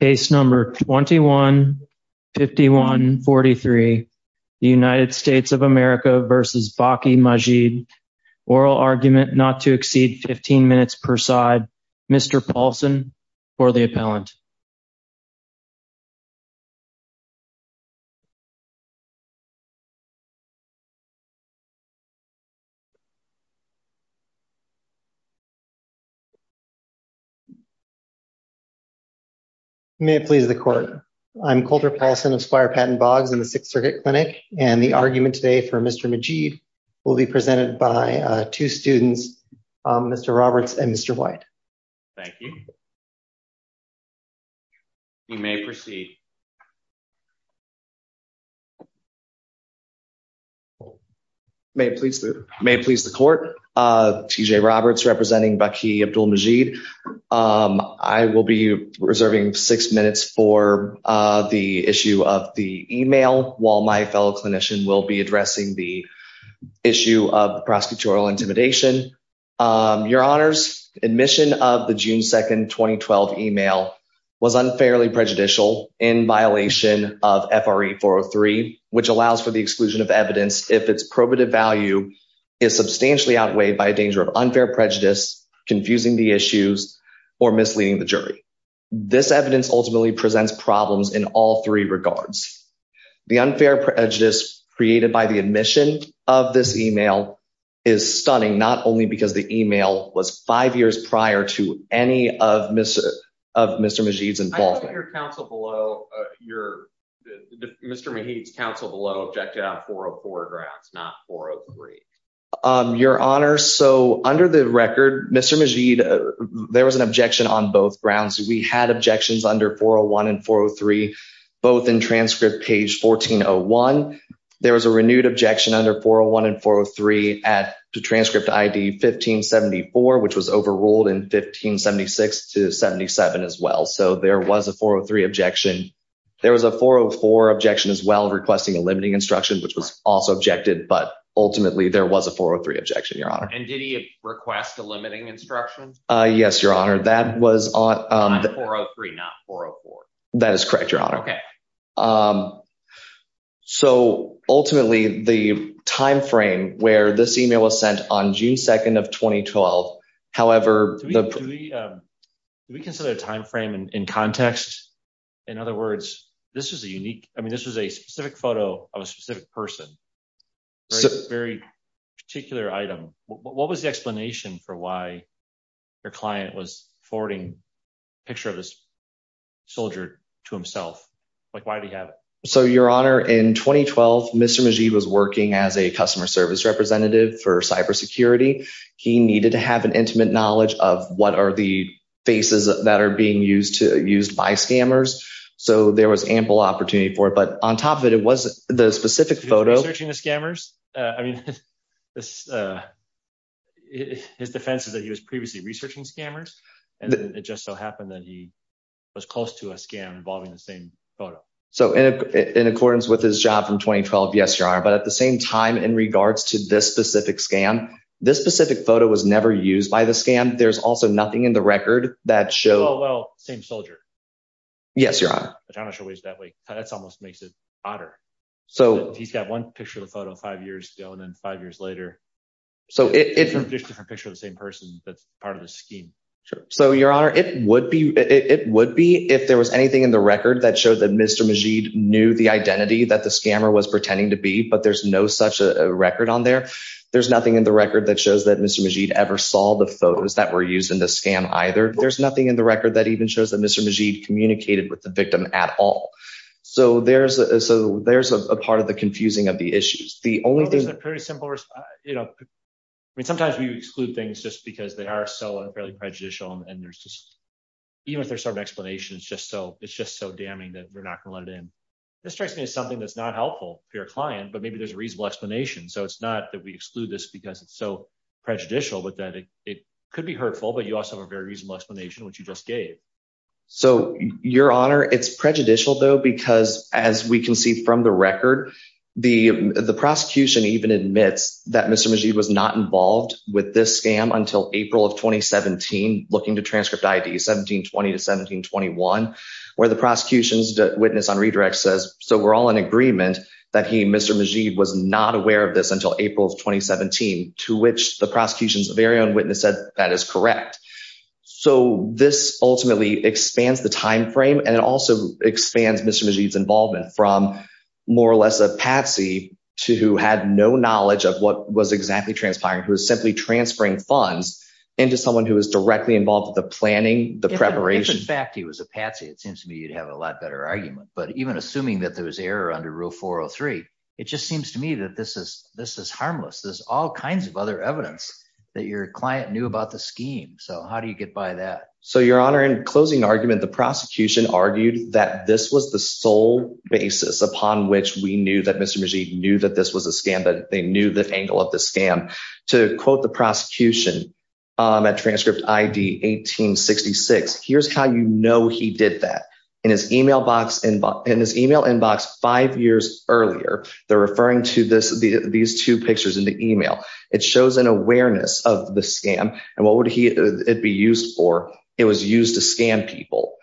Case number 21-51-43 United States of America v. Baaki Majeed Oral argument not to exceed 15 minutes per side Mr. Paulson for the appellant May it please the court I'm Colter Paulson of Squire Patent Boggs in the Sixth Circuit Clinic and the argument today for Mr. Majeed will be presented by two students Mr. Roberts and Mr. White. Thank you. You may proceed. May it please the court. T.J. Roberts representing Baaki Abdul Majeed. I will be reserving six minutes for the issue of the email while my fellow clinician will be addressing the issue of prosecutorial intimidation. Your honors admission of the June 2nd 2012 email was unfairly prejudicial in violation of FRE 403 which allows for the exclusion of evidence if its probative value is substantially outweighed by a danger of unfair prejudice confusing the issues or misleading the jury. This evidence ultimately presents problems in all three regards. The unfair prejudice created by the admission of this email is stunning not only because the email was five years prior to any of Mr. Majeed's involvement. Your counsel below your Mr. Majeed's counsel below objected on 404 address not 403. Your honor so under the record Mr. Majeed there was an objection on both grounds we had objections under 401 and 403 both in transcript page 1401. There was a renewed objection under 401 and 403 at the transcript id 1574 which was overruled in 1576 to 77 as well so there was a 403 objection. There was a 404 objection as well requesting a limiting instruction which was also objected but ultimately there was a 403 objection your honor and did he request a limiting instruction uh yes your honor that was on 403 not 404 that is correct your honor okay um so ultimately the time frame where this email was sent on June 2nd of 2012 however the we consider a time frame in context in other words this is a unique i mean this was a specific photo of a specific person particular item what was the explanation for why your client was forwarding a picture of this soldier to himself like why did he have it so your honor in 2012 Mr. Majeed was working as a customer service representative for cyber security he needed to have an intimate knowledge of what are the faces that are being used to used by scammers so there was ample opportunity for it on top of it it was the specific photo searching the scammers uh i mean this uh his defense is that he was previously researching scammers and then it just so happened that he was close to a scam involving the same photo so in accordance with his job from 2012 yes your honor but at the same time in regards to this specific scam this specific photo was never used by the scam there's also nothing in the record that show well same soldier yes your honor but i'm not sure that's almost makes it odder so he's got one picture of the photo five years ago and then five years later so it's a different picture of the same person that's part of the scheme sure so your honor it would be it would be if there was anything in the record that showed that Mr. Majeed knew the identity that the scammer was pretending to be but there's no such a record on there there's nothing in the record that shows that Mr. Majeed ever saw the photos that were used in the scam either there's nothing in the record that even shows that Mr. Majeed communicated with the victim at all so there's a so there's a part of the confusing of the issues the only thing you know i mean sometimes we exclude things just because they are so unfairly prejudicial and there's just even if there's some explanation it's just so it's just so damning that we're not going to let it in this strikes me as something that's not helpful for your client but maybe there's a reasonable explanation so it's not that we exclude this because it's so prejudicial but that it could be hurtful but you also have a very reasonable explanation which you just gave so your honor it's prejudicial though because as we can see from the record the the prosecution even admits that Mr. Majeed was not involved with this scam until April of 2017 looking to transcript ID 1720 to 1721 where the prosecution's witness on redirect says so we're all in agreement that he Mr. Majeed was not aware of this until April of 2017 to which the ultimately expands the time frame and it also expands Mr. Majeed's involvement from more or less a patsy to who had no knowledge of what was exactly transpiring who was simply transferring funds into someone who was directly involved with the planning the preparation fact he was a patsy it seems to me you'd have a lot better argument but even assuming that there was error under rule 403 it just seems to me that this is this is harmless there's all kinds of other evidence that your client knew about the scheme so how do you get by that so your honor in closing argument the prosecution argued that this was the sole basis upon which we knew that Mr. Majeed knew that this was a scam that they knew the angle of the scam to quote the prosecution at transcript ID 1866 here's how you know he did that in his email box inbox in his email inbox five years earlier they're referring to this these two pictures in the email it shows an awareness of the scam and what would he it be used for it was used to scam people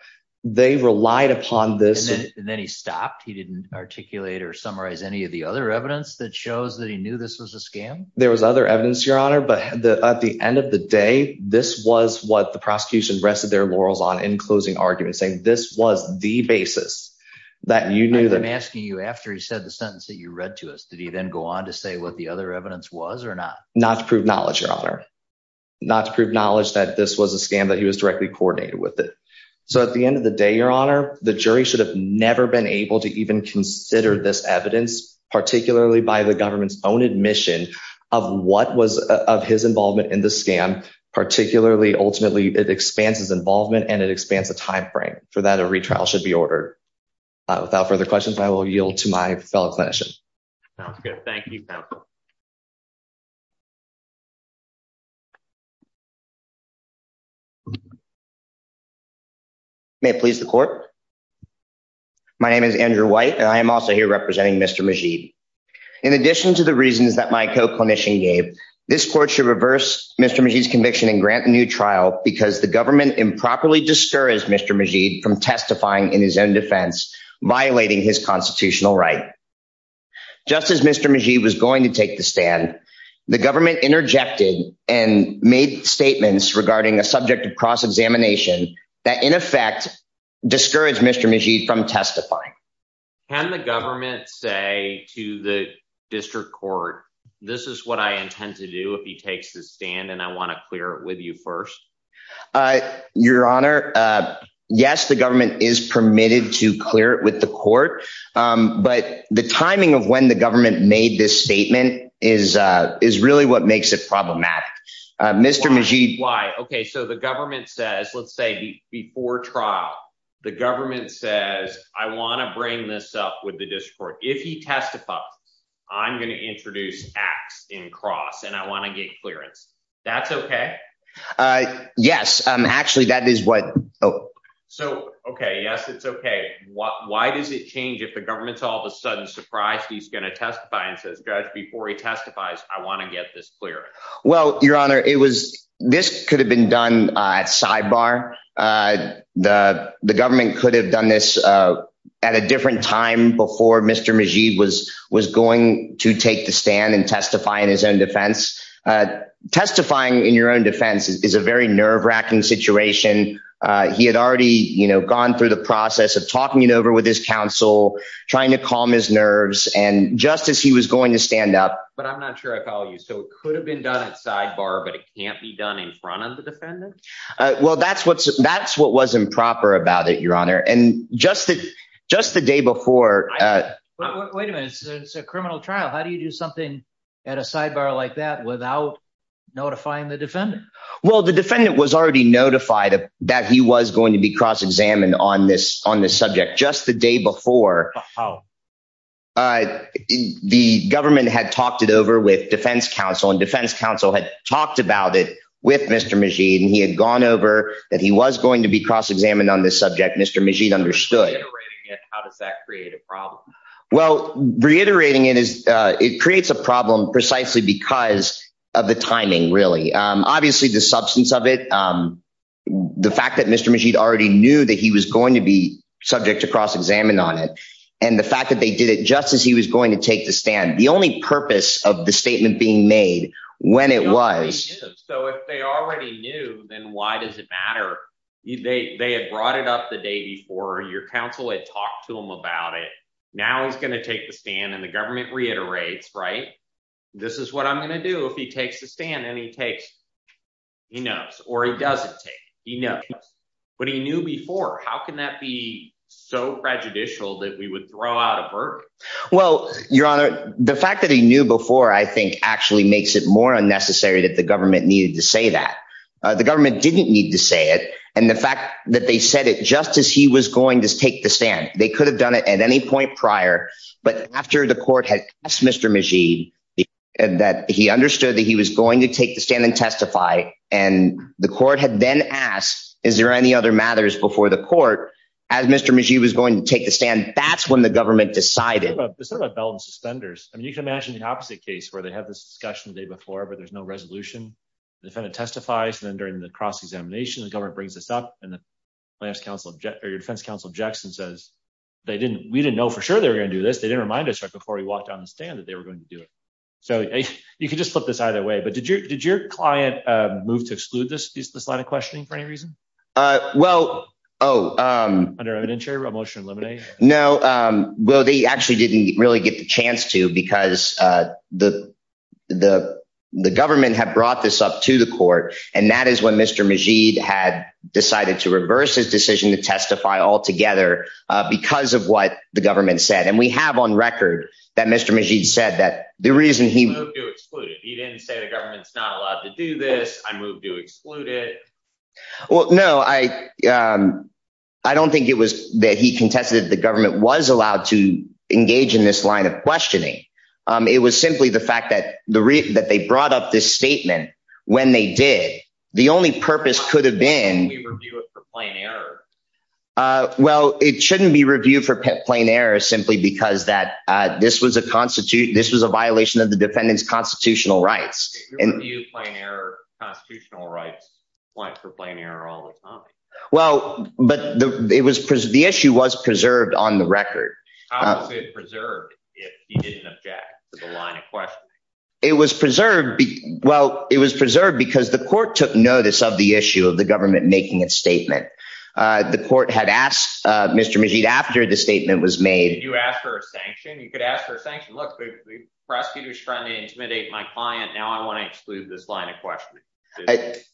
they relied upon this and then he stopped he didn't articulate or summarize any of the other evidence that shows that he knew this was a scam there was other evidence your honor but the at the end of the day this was what the prosecution rested their laurels on in closing argument saying this was the basis that you knew i'm asking you after he said the sentence that you read to us did he then go on to say what the other evidence was or not not to prove knowledge your honor not to prove knowledge that this was a scam that he was directly coordinated with it so at the end of the day your honor the jury should have never been able to even consider this evidence particularly by the government's own admission of what was of his involvement in the scam particularly ultimately it expands his involvement and it expands the time frame for that a retrial should be ordered without further questions i will yield to my fellow clinicians sounds good thank you may it please the court my name is andrew white and i am also here representing mr majeed in addition to the reasons that my co-clinician gave this court should reverse mr majeed's conviction and grant a new trial because the government improperly discourage mr majeed from testifying in his own defense violating his constitutional right just as mr majeed was going to take the stand the government interjected and made statements regarding a subject of cross-examination that in effect discouraged mr majeed from testifying can the government say to the district court this is what i intend to do if he takes the stand and i want to clear it with you first uh your honor uh yes the government is permitted to clear it with the court um but the timing of when the government made this statement is uh is really what makes it problematic mr majeed why okay so the government says let's say before trial the government says i want to bring this up with the district if he testifies i'm going to introduce acts in cross and i want to get clearance that's okay uh yes um actually that is what oh so okay yes it's okay what why does it change if the government's all of a sudden surprised he's going to testify and says judge before he testifies i want to get this clear well your honor it was this could have been done at sidebar uh the the government could have done this uh at a different time before mr majeed was was going to take the stand and testify in his own defense uh testifying in your own defense is a very nerve-wracking situation uh he had already you know gone through the process of talking it over with his counsel trying to calm his nerves and just as he was going to stand up but i'm not sure i follow you so it could have been done at sidebar but it can't be done in front of the defendant uh well that's what's that's what was improper about it your honor and just that just the day before uh wait a minute it's a criminal trial how do you do something at a sidebar like that without notifying the defendant well the defendant was already notified that he was going to be cross-examined on this on this subject just the day before the government had talked it over with defense counsel and defense counsel had talked about it with mr majeed and he had gone over that he was going to be cross-examined on this subject mr understood how does that create a problem well reiterating it is uh it creates a problem precisely because of the timing really um obviously the substance of it um the fact that mr majeed already knew that he was going to be subject to cross-examined on it and the fact that they did it just as he was going to take the stand the only purpose of the statement being made when so if they already knew then why does it matter they they had brought it up the day before your counsel had talked to him about it now he's going to take the stand and the government reiterates right this is what i'm going to do if he takes the stand and he takes he knows or he doesn't take he knows but he knew before how can that be so prejudicial that we would throw out of work well your honor the fact that he knew before i think actually makes it more unnecessary that the government needed to say that the government didn't need to say it and the fact that they said it just as he was going to take the stand they could have done it at any point prior but after the court had asked mr majeed that he understood that he was going to take the stand and testify and the court had then asked is there any other matters before the court as mr majee was going to take the stand that's when the government decided it's not about belt and suspenders i mean you can imagine the opposite case where they have this discussion the day before but there's no resolution the defendant testifies and then during the cross-examination the government brings this up and the defense counsel object or your defense counsel objects and says they didn't we didn't know for sure they were going to do this they didn't remind us right before we walked down the stand that they were going to do it so you could just flip this either way but did your did your client uh move to exclude this this line of questioning for any reason uh well oh um under evidentiary motion eliminate no um well they actually didn't really get the chance to because uh the the the government had brought this up to the court and that is when mr majeed had decided to reverse his decision to testify altogether uh because of what the government said and we have on record that mr majeed said that the reason he excluded he didn't say the government's not allowed to do this i moved to exclude it well no i um i don't think it was that he contested the government was allowed to engage in this line of questioning um it was simply the fact that the reason that they brought up this statement when they did the only purpose could have been for plain error uh well it shouldn't be reviewed for plain error simply because that uh this was a constitute this was a violation of the defendant's constitutional rights and you plain error constitutional rights went for plain error all the time well but it was the issue was preserved on the record how was it preserved if he didn't object to the line of questioning it was preserved well it was preserved because the court took notice of the issue of the government making a statement uh the court had asked uh mr majeed after the statement was made you ask for a sanction you could ask for a sanction look the prosecutor's trying to intimidate my client now i want to exclude this line of questioning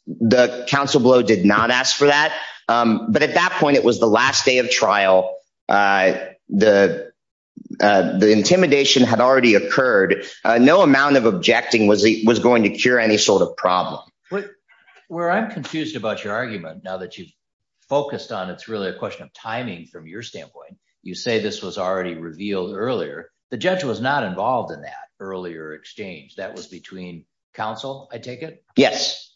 the council below did not ask for that um but at that point it was the last day of trial uh the uh the intimidation had already occurred no amount of objecting was going to cure any sort of problem what where i'm confused about your argument now that you've focused on it's really a question of timing from your standpoint you say this was already revealed earlier the judge was not involved in that earlier exchange that was between council i take it yes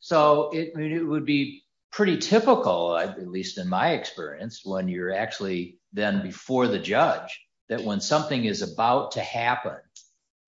so it would be pretty typical at least in my experience when you're actually then before the judge that when something is about to happen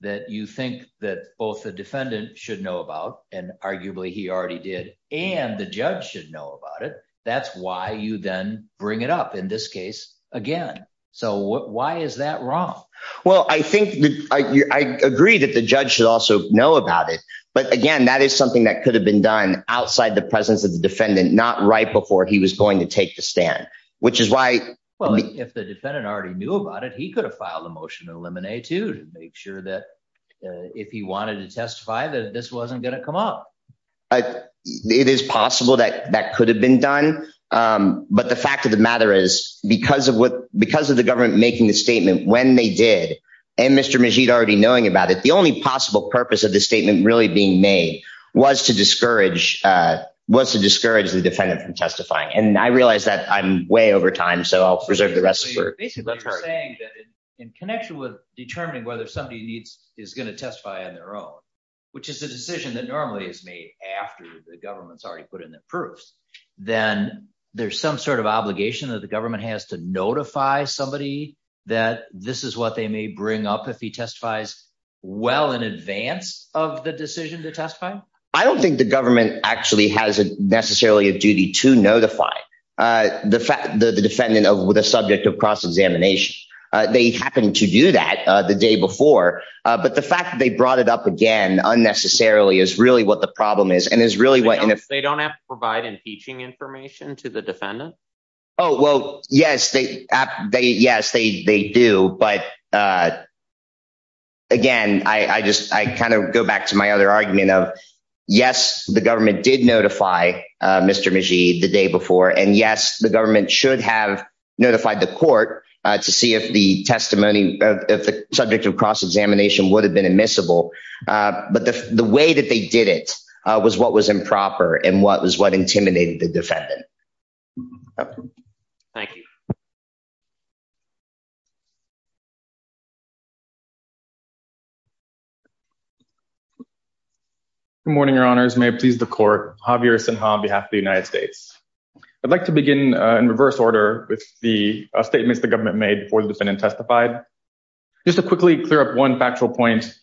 that you think that both the defendant should know about and arguably he already did and the judge should know about it that's why you then bring it up in this case again so why is that wrong well i think i agree that the judge should also know about it but again that is something that could have been done outside the presence of the defendant not right before he was going to take the stand which is why well if the defendant already knew about it he could have filed a motion to eliminate to make sure that if he wanted to testify that this wasn't going to come up it is possible that that could have been done but the fact of the matter is because of what because of the government making the statement when they did and mr majid already knowing about it the only possible purpose of the statement really being made was to discourage uh was to discourage the defendant from testifying and i realize that i'm way over time so i'll preserve the rest basically you're saying that in connection with determining whether somebody needs is going to testify on their own which is a decision that normally is made after the government's already put in the proofs then there's some sort of obligation that the government has to notify somebody that this is what they may bring up if he testifies well in advance of the decision to testify i don't think the government actually has a necessarily a duty to notify uh the fact the defendant of the subject of cross-examination uh they happen to do that uh the day before uh but the fact that they brought it up again unnecessarily is really what the problem is and is really what if they don't have to provide impeaching information to the defendant oh well yes they they yes they they do but uh again i i just i kind of go back to my other argument of yes the government did notify uh to see if the testimony of the subject of cross-examination would have been admissible uh but the the way that they did it uh was what was improper and what was what intimidated the defendant thank you good morning your honors may it please the court javier sinha on behalf of the uh statements the government made before the defendant testified just to quickly clear up one factual point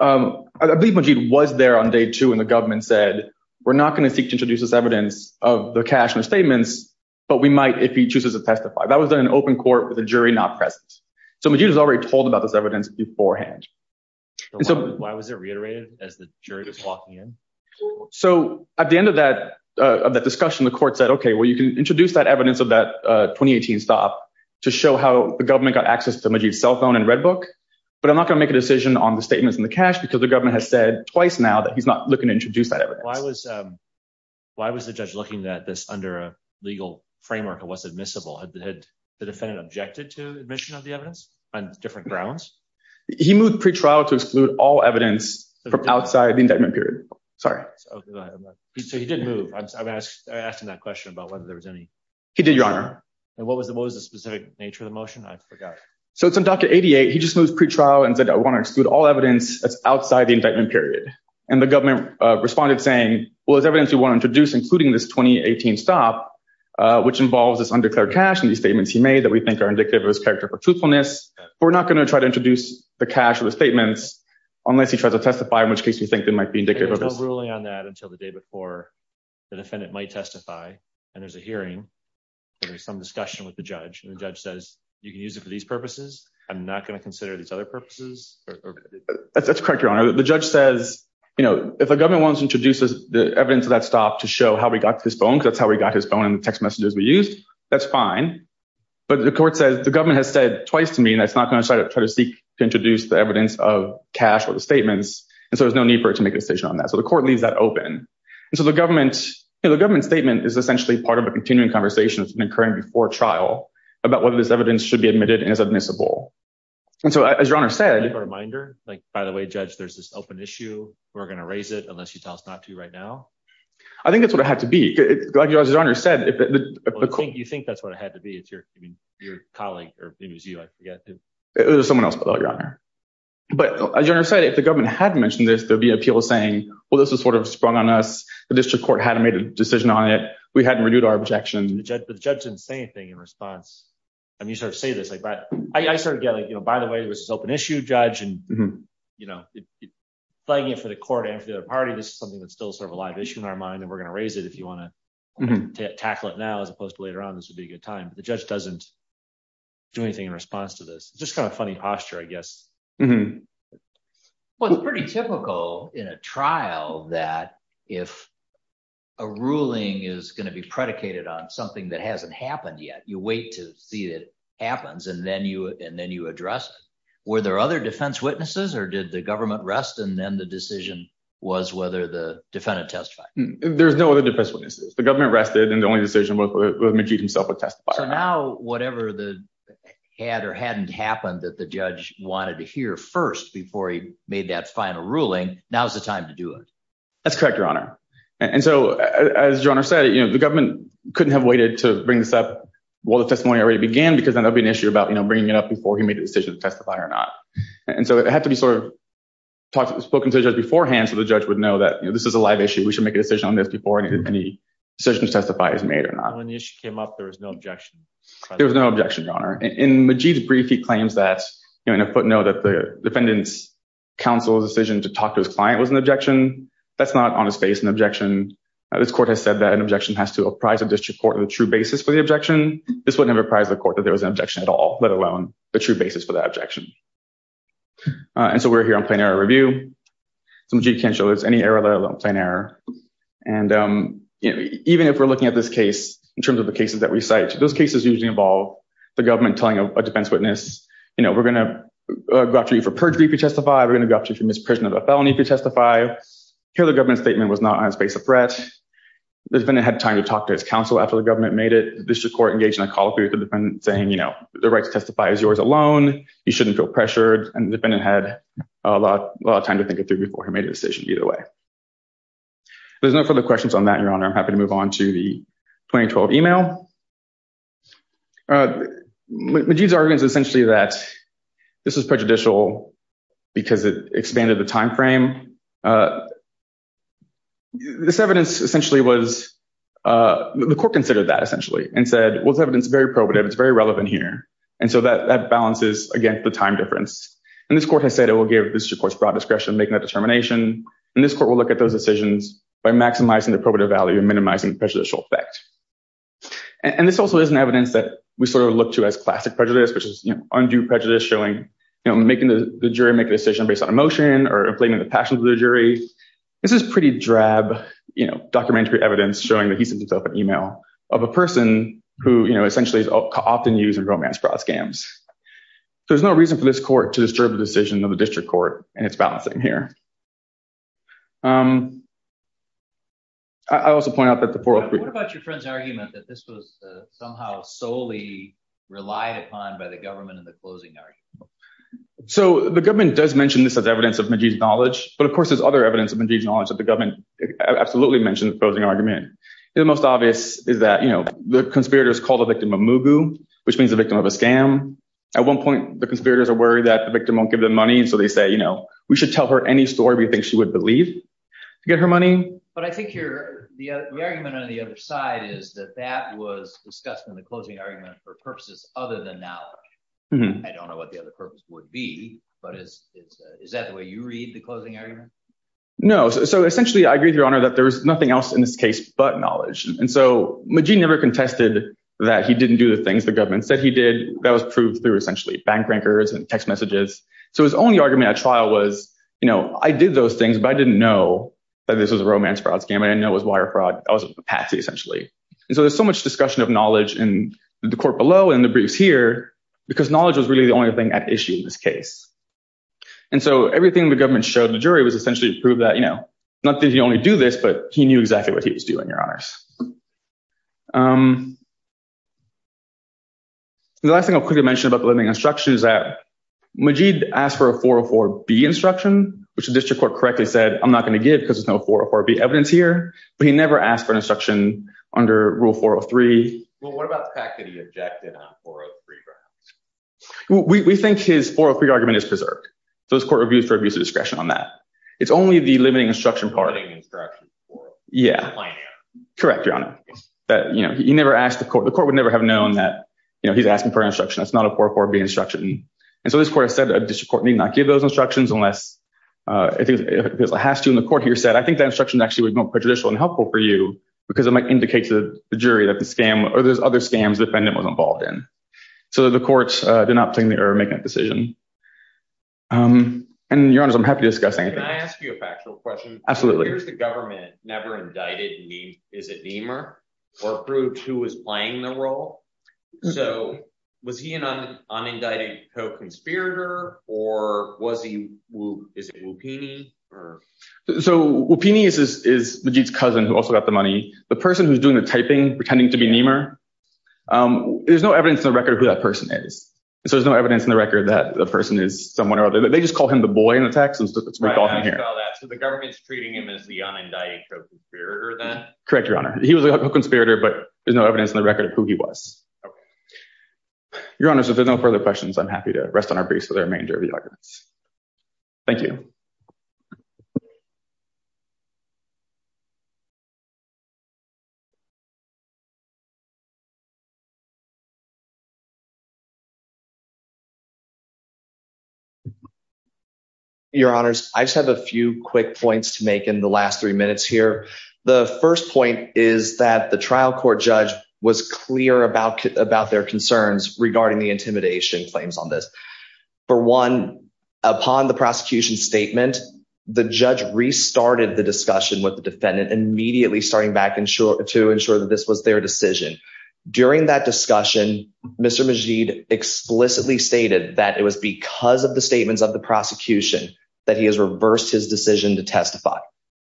um i believe majeed was there on day two and the government said we're not going to seek to introduce this evidence of the cash and statements but we might if he chooses to testify that was in an open court with a jury not present so majeed has already told about this evidence beforehand so why was it reiterated as the jury was walking in so at the end of that uh of that discussion the court said okay well you can to show how the government got access to majeed's cell phone and red book but i'm not going to make a decision on the statements in the cash because the government has said twice now that he's not looking to introduce that evidence why was um why was the judge looking at this under a legal framework it was admissible had the defendant objected to admission of the evidence on different grounds he moved pre-trial to exclude all evidence from outside the indictment period sorry so he did move i'm asking that question about whether there was any he did your honor and what was the what was the specific nature of the motion i forgot so it's on doctor 88 he just moves pre-trial and said i want to exclude all evidence that's outside the indictment period and the government uh responded saying well there's evidence we want to introduce including this 2018 stop uh which involves this undeclared cash and these statements he made that we think are indicative of his character for truthfulness we're not going to try to introduce the cash or the statements unless he tries to testify in which case we think they might be indicative of ruling on that until the day before the defendant might testify and there's a hearing there's some discussion with the judge and the judge says you can use it for these purposes i'm not going to consider these other purposes that's correct your honor the judge says you know if the government wants to introduce the evidence of that stop to show how we got to this phone because that's how we got his phone and the text messages we used that's fine but the court says the government has said twice to me that's not going to try to seek to introduce the evidence of cash or the statements and so there's no need for it to make a decision on that so the court leaves that open and so the government you know the government statement is essentially part of a continuing conversation that's been occurring before trial about whether this evidence should be admitted and is admissible and so as your honor said a reminder like by the way judge there's this open issue we're going to raise it unless you tell us not to right now i think that's what it had to be like your honor said you think that's what it had to be it's your i mean your colleague or maybe it was you i forget there's someone else but your honor but as your honor said if the government had mentioned this there'd be appeal saying well this was sort of sprung on us the district court had made a decision on it we hadn't renewed our objection the judge didn't say anything in response i mean you sort of say this like but i started getting you know by the way there was this open issue judge and you know flagging it for the court and for the other party this is something that's still sort of a live issue in our mind and we're going to raise it if you want to tackle it now as opposed to later on this would be a good time but the judge doesn't do anything in response to this it's just kind of funny posture i guess mm-hmm well it's pretty typical in a trial that if a ruling is going to be predicated on something that hasn't happened yet you wait to see it happens and then you and then you address it were there other defense witnesses or did the government rest and then the decision was whether the defendant testified there's no other defense witnesses the government rested and the only decision was with majid himself a testifier now whatever the had or hadn't happened that the judge wanted to hear first before he made that final ruling now's the time to do it that's correct your honor and so as your honor said you know the government couldn't have waited to bring this up while the testimony already began because then there'll be an issue about you know bringing it up before he made a decision to testify or not and so it had to be sort of talked spoken to the judge beforehand so the judge would know that you know this is a live issue we should make a decision on this before any decisions testify is made or not when the you know in a footnote that the defendant's counsel's decision to talk to his client was an objection that's not on his face an objection this court has said that an objection has to apprise the district court of the true basis for the objection this wouldn't have apprised the court that there was an objection at all let alone the true basis for that objection and so we're here on plain error review some g can show there's any error let alone plain error and you know even if we're looking at this case in terms of the cases that recite those cases usually involve the government telling a defense witness you know we're going to go after you for perjury if you testify we're going to go after you for misprision of a felony if you testify here the government statement was not on his face of threat the defendant had time to talk to his counsel after the government made it the district court engaged in a call to the defendant saying you know the right to testify is yours alone you shouldn't feel pressured and the defendant had a lot a lot of time to think it through before he made a decision either way there's no further questions on that your honor i'm happy to move on to the 2012 email uh majeed's argument is essentially that this was prejudicial because it expanded the time frame this evidence essentially was uh the court considered that essentially and said well it's evidence very probative it's very relevant here and so that that balances against the time difference and this court has said it will give this of course broad discretion making that determination and this court will look at those decisions by maximizing the probative value and and this also is an evidence that we sort of look to as classic prejudice which is you know undue prejudice showing you know making the jury make a decision based on emotion or inflating the passions of the jury this is pretty drab you know documentary evidence showing that he sends himself an email of a person who you know essentially is often used in romance fraud scams so there's no reason for this court to disturb the decision of the district court and it's balancing here um i also point out that the forum what about your friend's argument that this was somehow solely relied upon by the government in the closing argument so the government does mention this as evidence of majeed's knowledge but of course there's other evidence of majeed's knowledge that the government absolutely mentioned the closing argument the most obvious is that you know the conspirators called the victim a mugu which means the victim of a scam at one point the conspirators are worried that the victim won't give them money and so they say you know we should tell her any story we think she would believe to get her money but i think you're the argument on the other side is that that was discussed in the closing argument for purposes other than knowledge i don't know what the other purpose would be but is it is that the way you read the closing argument no so essentially i agree with your honor that there was nothing else in this case but knowledge and so magine never contested that he didn't do the things the government said he did that was proved through essentially bank rancors and text messages so his only argument at trial was you know i did those things but i didn't know that this was a romance fraud scam i didn't know it was wire fraud i was a patsy essentially and so there's so much discussion of knowledge in the court below and the briefs here because knowledge was really the only thing at issue in this case and so everything the government showed the jury was essentially to prove that you know not that he only do this but he knew exactly what he was doing your honors um the last thing i'll quickly mention about the living instruction is that asked for a 404b instruction which the district court correctly said i'm not going to give because there's no 404b evidence here but he never asked for instruction under rule 403 well what about the fact that he objected on 403 perhaps we we think his 403 argument is preserved so this court reviews for abuse of discretion on that it's only the limiting instruction party instructions yeah correct your honor that you know you never asked the court the court would never have known that you know he's asking for instruction that's not a 404b instruction and so this court said a district court need not give those instructions unless uh i think it has to in the court here said i think that instruction actually would be more prejudicial and helpful for you because it might indicate to the jury that the scam or there's other scams the defendant was involved in so the courts did not think they were making a decision um and your honors i'm happy to discuss anything i ask you a factual question absolutely here's the government never indicted me is it or proved who was playing the role so was he an unindicted co-conspirator or was he is it lupini or so lupini is is majit's cousin who also got the money the person who's doing the typing pretending to be neemer um there's no evidence in the record who that person is so there's no evidence in the record that the person is someone or other they just call him the boy in the text and stuff that's right i saw that so the government's treating him as an indicted conspirator then correct your honor he was a conspirator but there's no evidence in the record of who he was okay your honors if there's no further questions i'm happy to rest on our briefs for the remainder of the arguments thank you you your honors i just have a few quick points to make in the last three minutes here the first point is that the trial court judge was clear about about their concerns regarding intimidation claims on this for one upon the prosecution statement the judge restarted the discussion with the defendant immediately starting back and sure to ensure that this was their decision during that discussion mr majid explicitly stated that it was because of the statements of the prosecution that he has reversed his decision to testify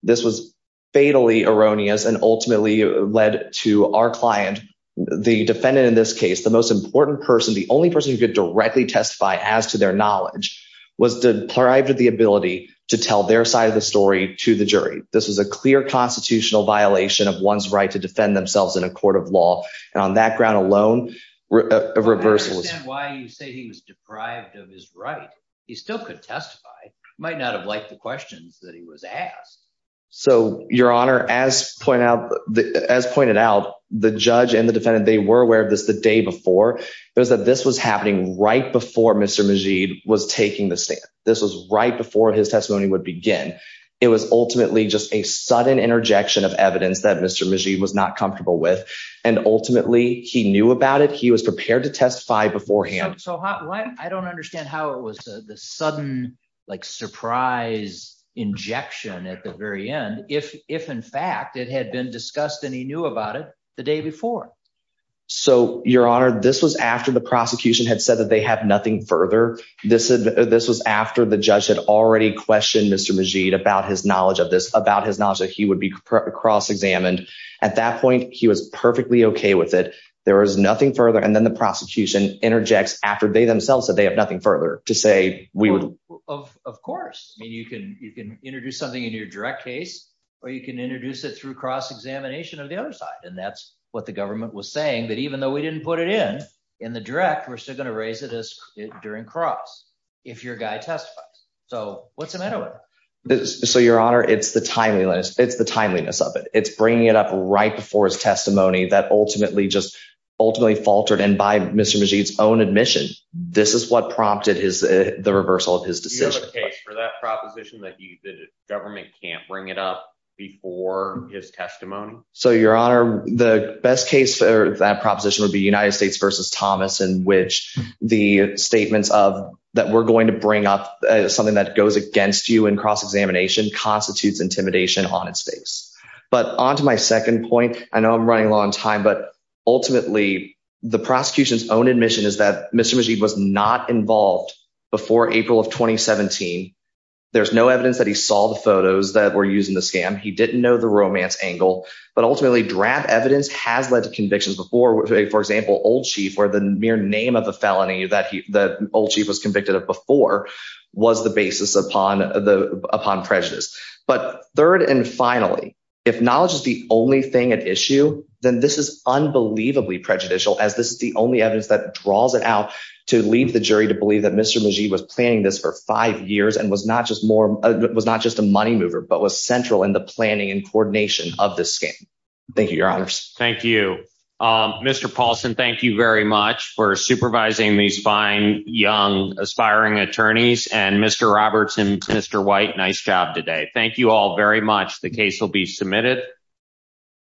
this was fatally erroneous and ultimately led to our client the defendant in this case the most important person the only person who could directly testify as to their knowledge was deprived of the ability to tell their side of the story to the jury this was a clear constitutional violation of one's right to defend themselves in a court of law and on that ground alone reversal is why you say he was deprived of his right he still could testify he might not have liked the questions that he was asked so your honor as point out the as pointed out the judge and the defendant they were aware of this the day before it was that this was happening right before mr majid was taking the stand this was right before his testimony would begin it was ultimately just a sudden interjection of evidence that mr majid was not comfortable with and ultimately he knew about it he was prepared to testify beforehand so hot what i don't understand how it was the sudden like surprise injection at the very end if if in fact it had been discussed and he knew about it the day before so your honor this was after the prosecution had said that they have nothing further this this was after the judge had already questioned mr majid about his knowledge of this about his knowledge that he would be cross-examined at that point he was perfectly okay with it there was nothing further and then the prosecution interjects after they themselves said they have nothing further to say we would of course i mean you can you can introduce something in your direct case or you can introduce it through cross-examination of the other side and that's what the government was saying that even though we didn't put it in in the direct we're still going to raise it as during cross if your guy testifies so what's the matter with this so your honor it's the timeliness it's the timeliness of it it's bringing it up right before his testimony that ultimately just ultimately faltered and by mr majid's own admission this is what prompted his the reversal of his decision for that proposition that he the government can't bring it up before his testimony so your honor the best case for that proposition would be united states versus thomas in which the statements of that we're going to bring up something that goes against you in cross-examination constitutes intimidation on its face but on to my second point i know i'm running a long time but ultimately the prosecution's own admission is that mr majid was not involved before april of 2017 there's no evidence that he saw the photos that were using the scam he didn't know the romance angle but ultimately draft evidence has led to convictions before for example old chief where the mere name of the felony that he that old chief was convicted of before was the basis upon the upon prejudice but third and finally if knowledge is the only thing at issue then this is unbelievably prejudicial as this is the only evidence that draws it out to leave the jury to believe that mr majid was planning this for five years and was not just more was not just a money mover but was central in the planning and coordination of this scam thank you your honors thank you um mr paulson thank you very much for supervising these fine young aspiring attorneys and mr robertson mr white nice job today thank you all very much the case will be submitted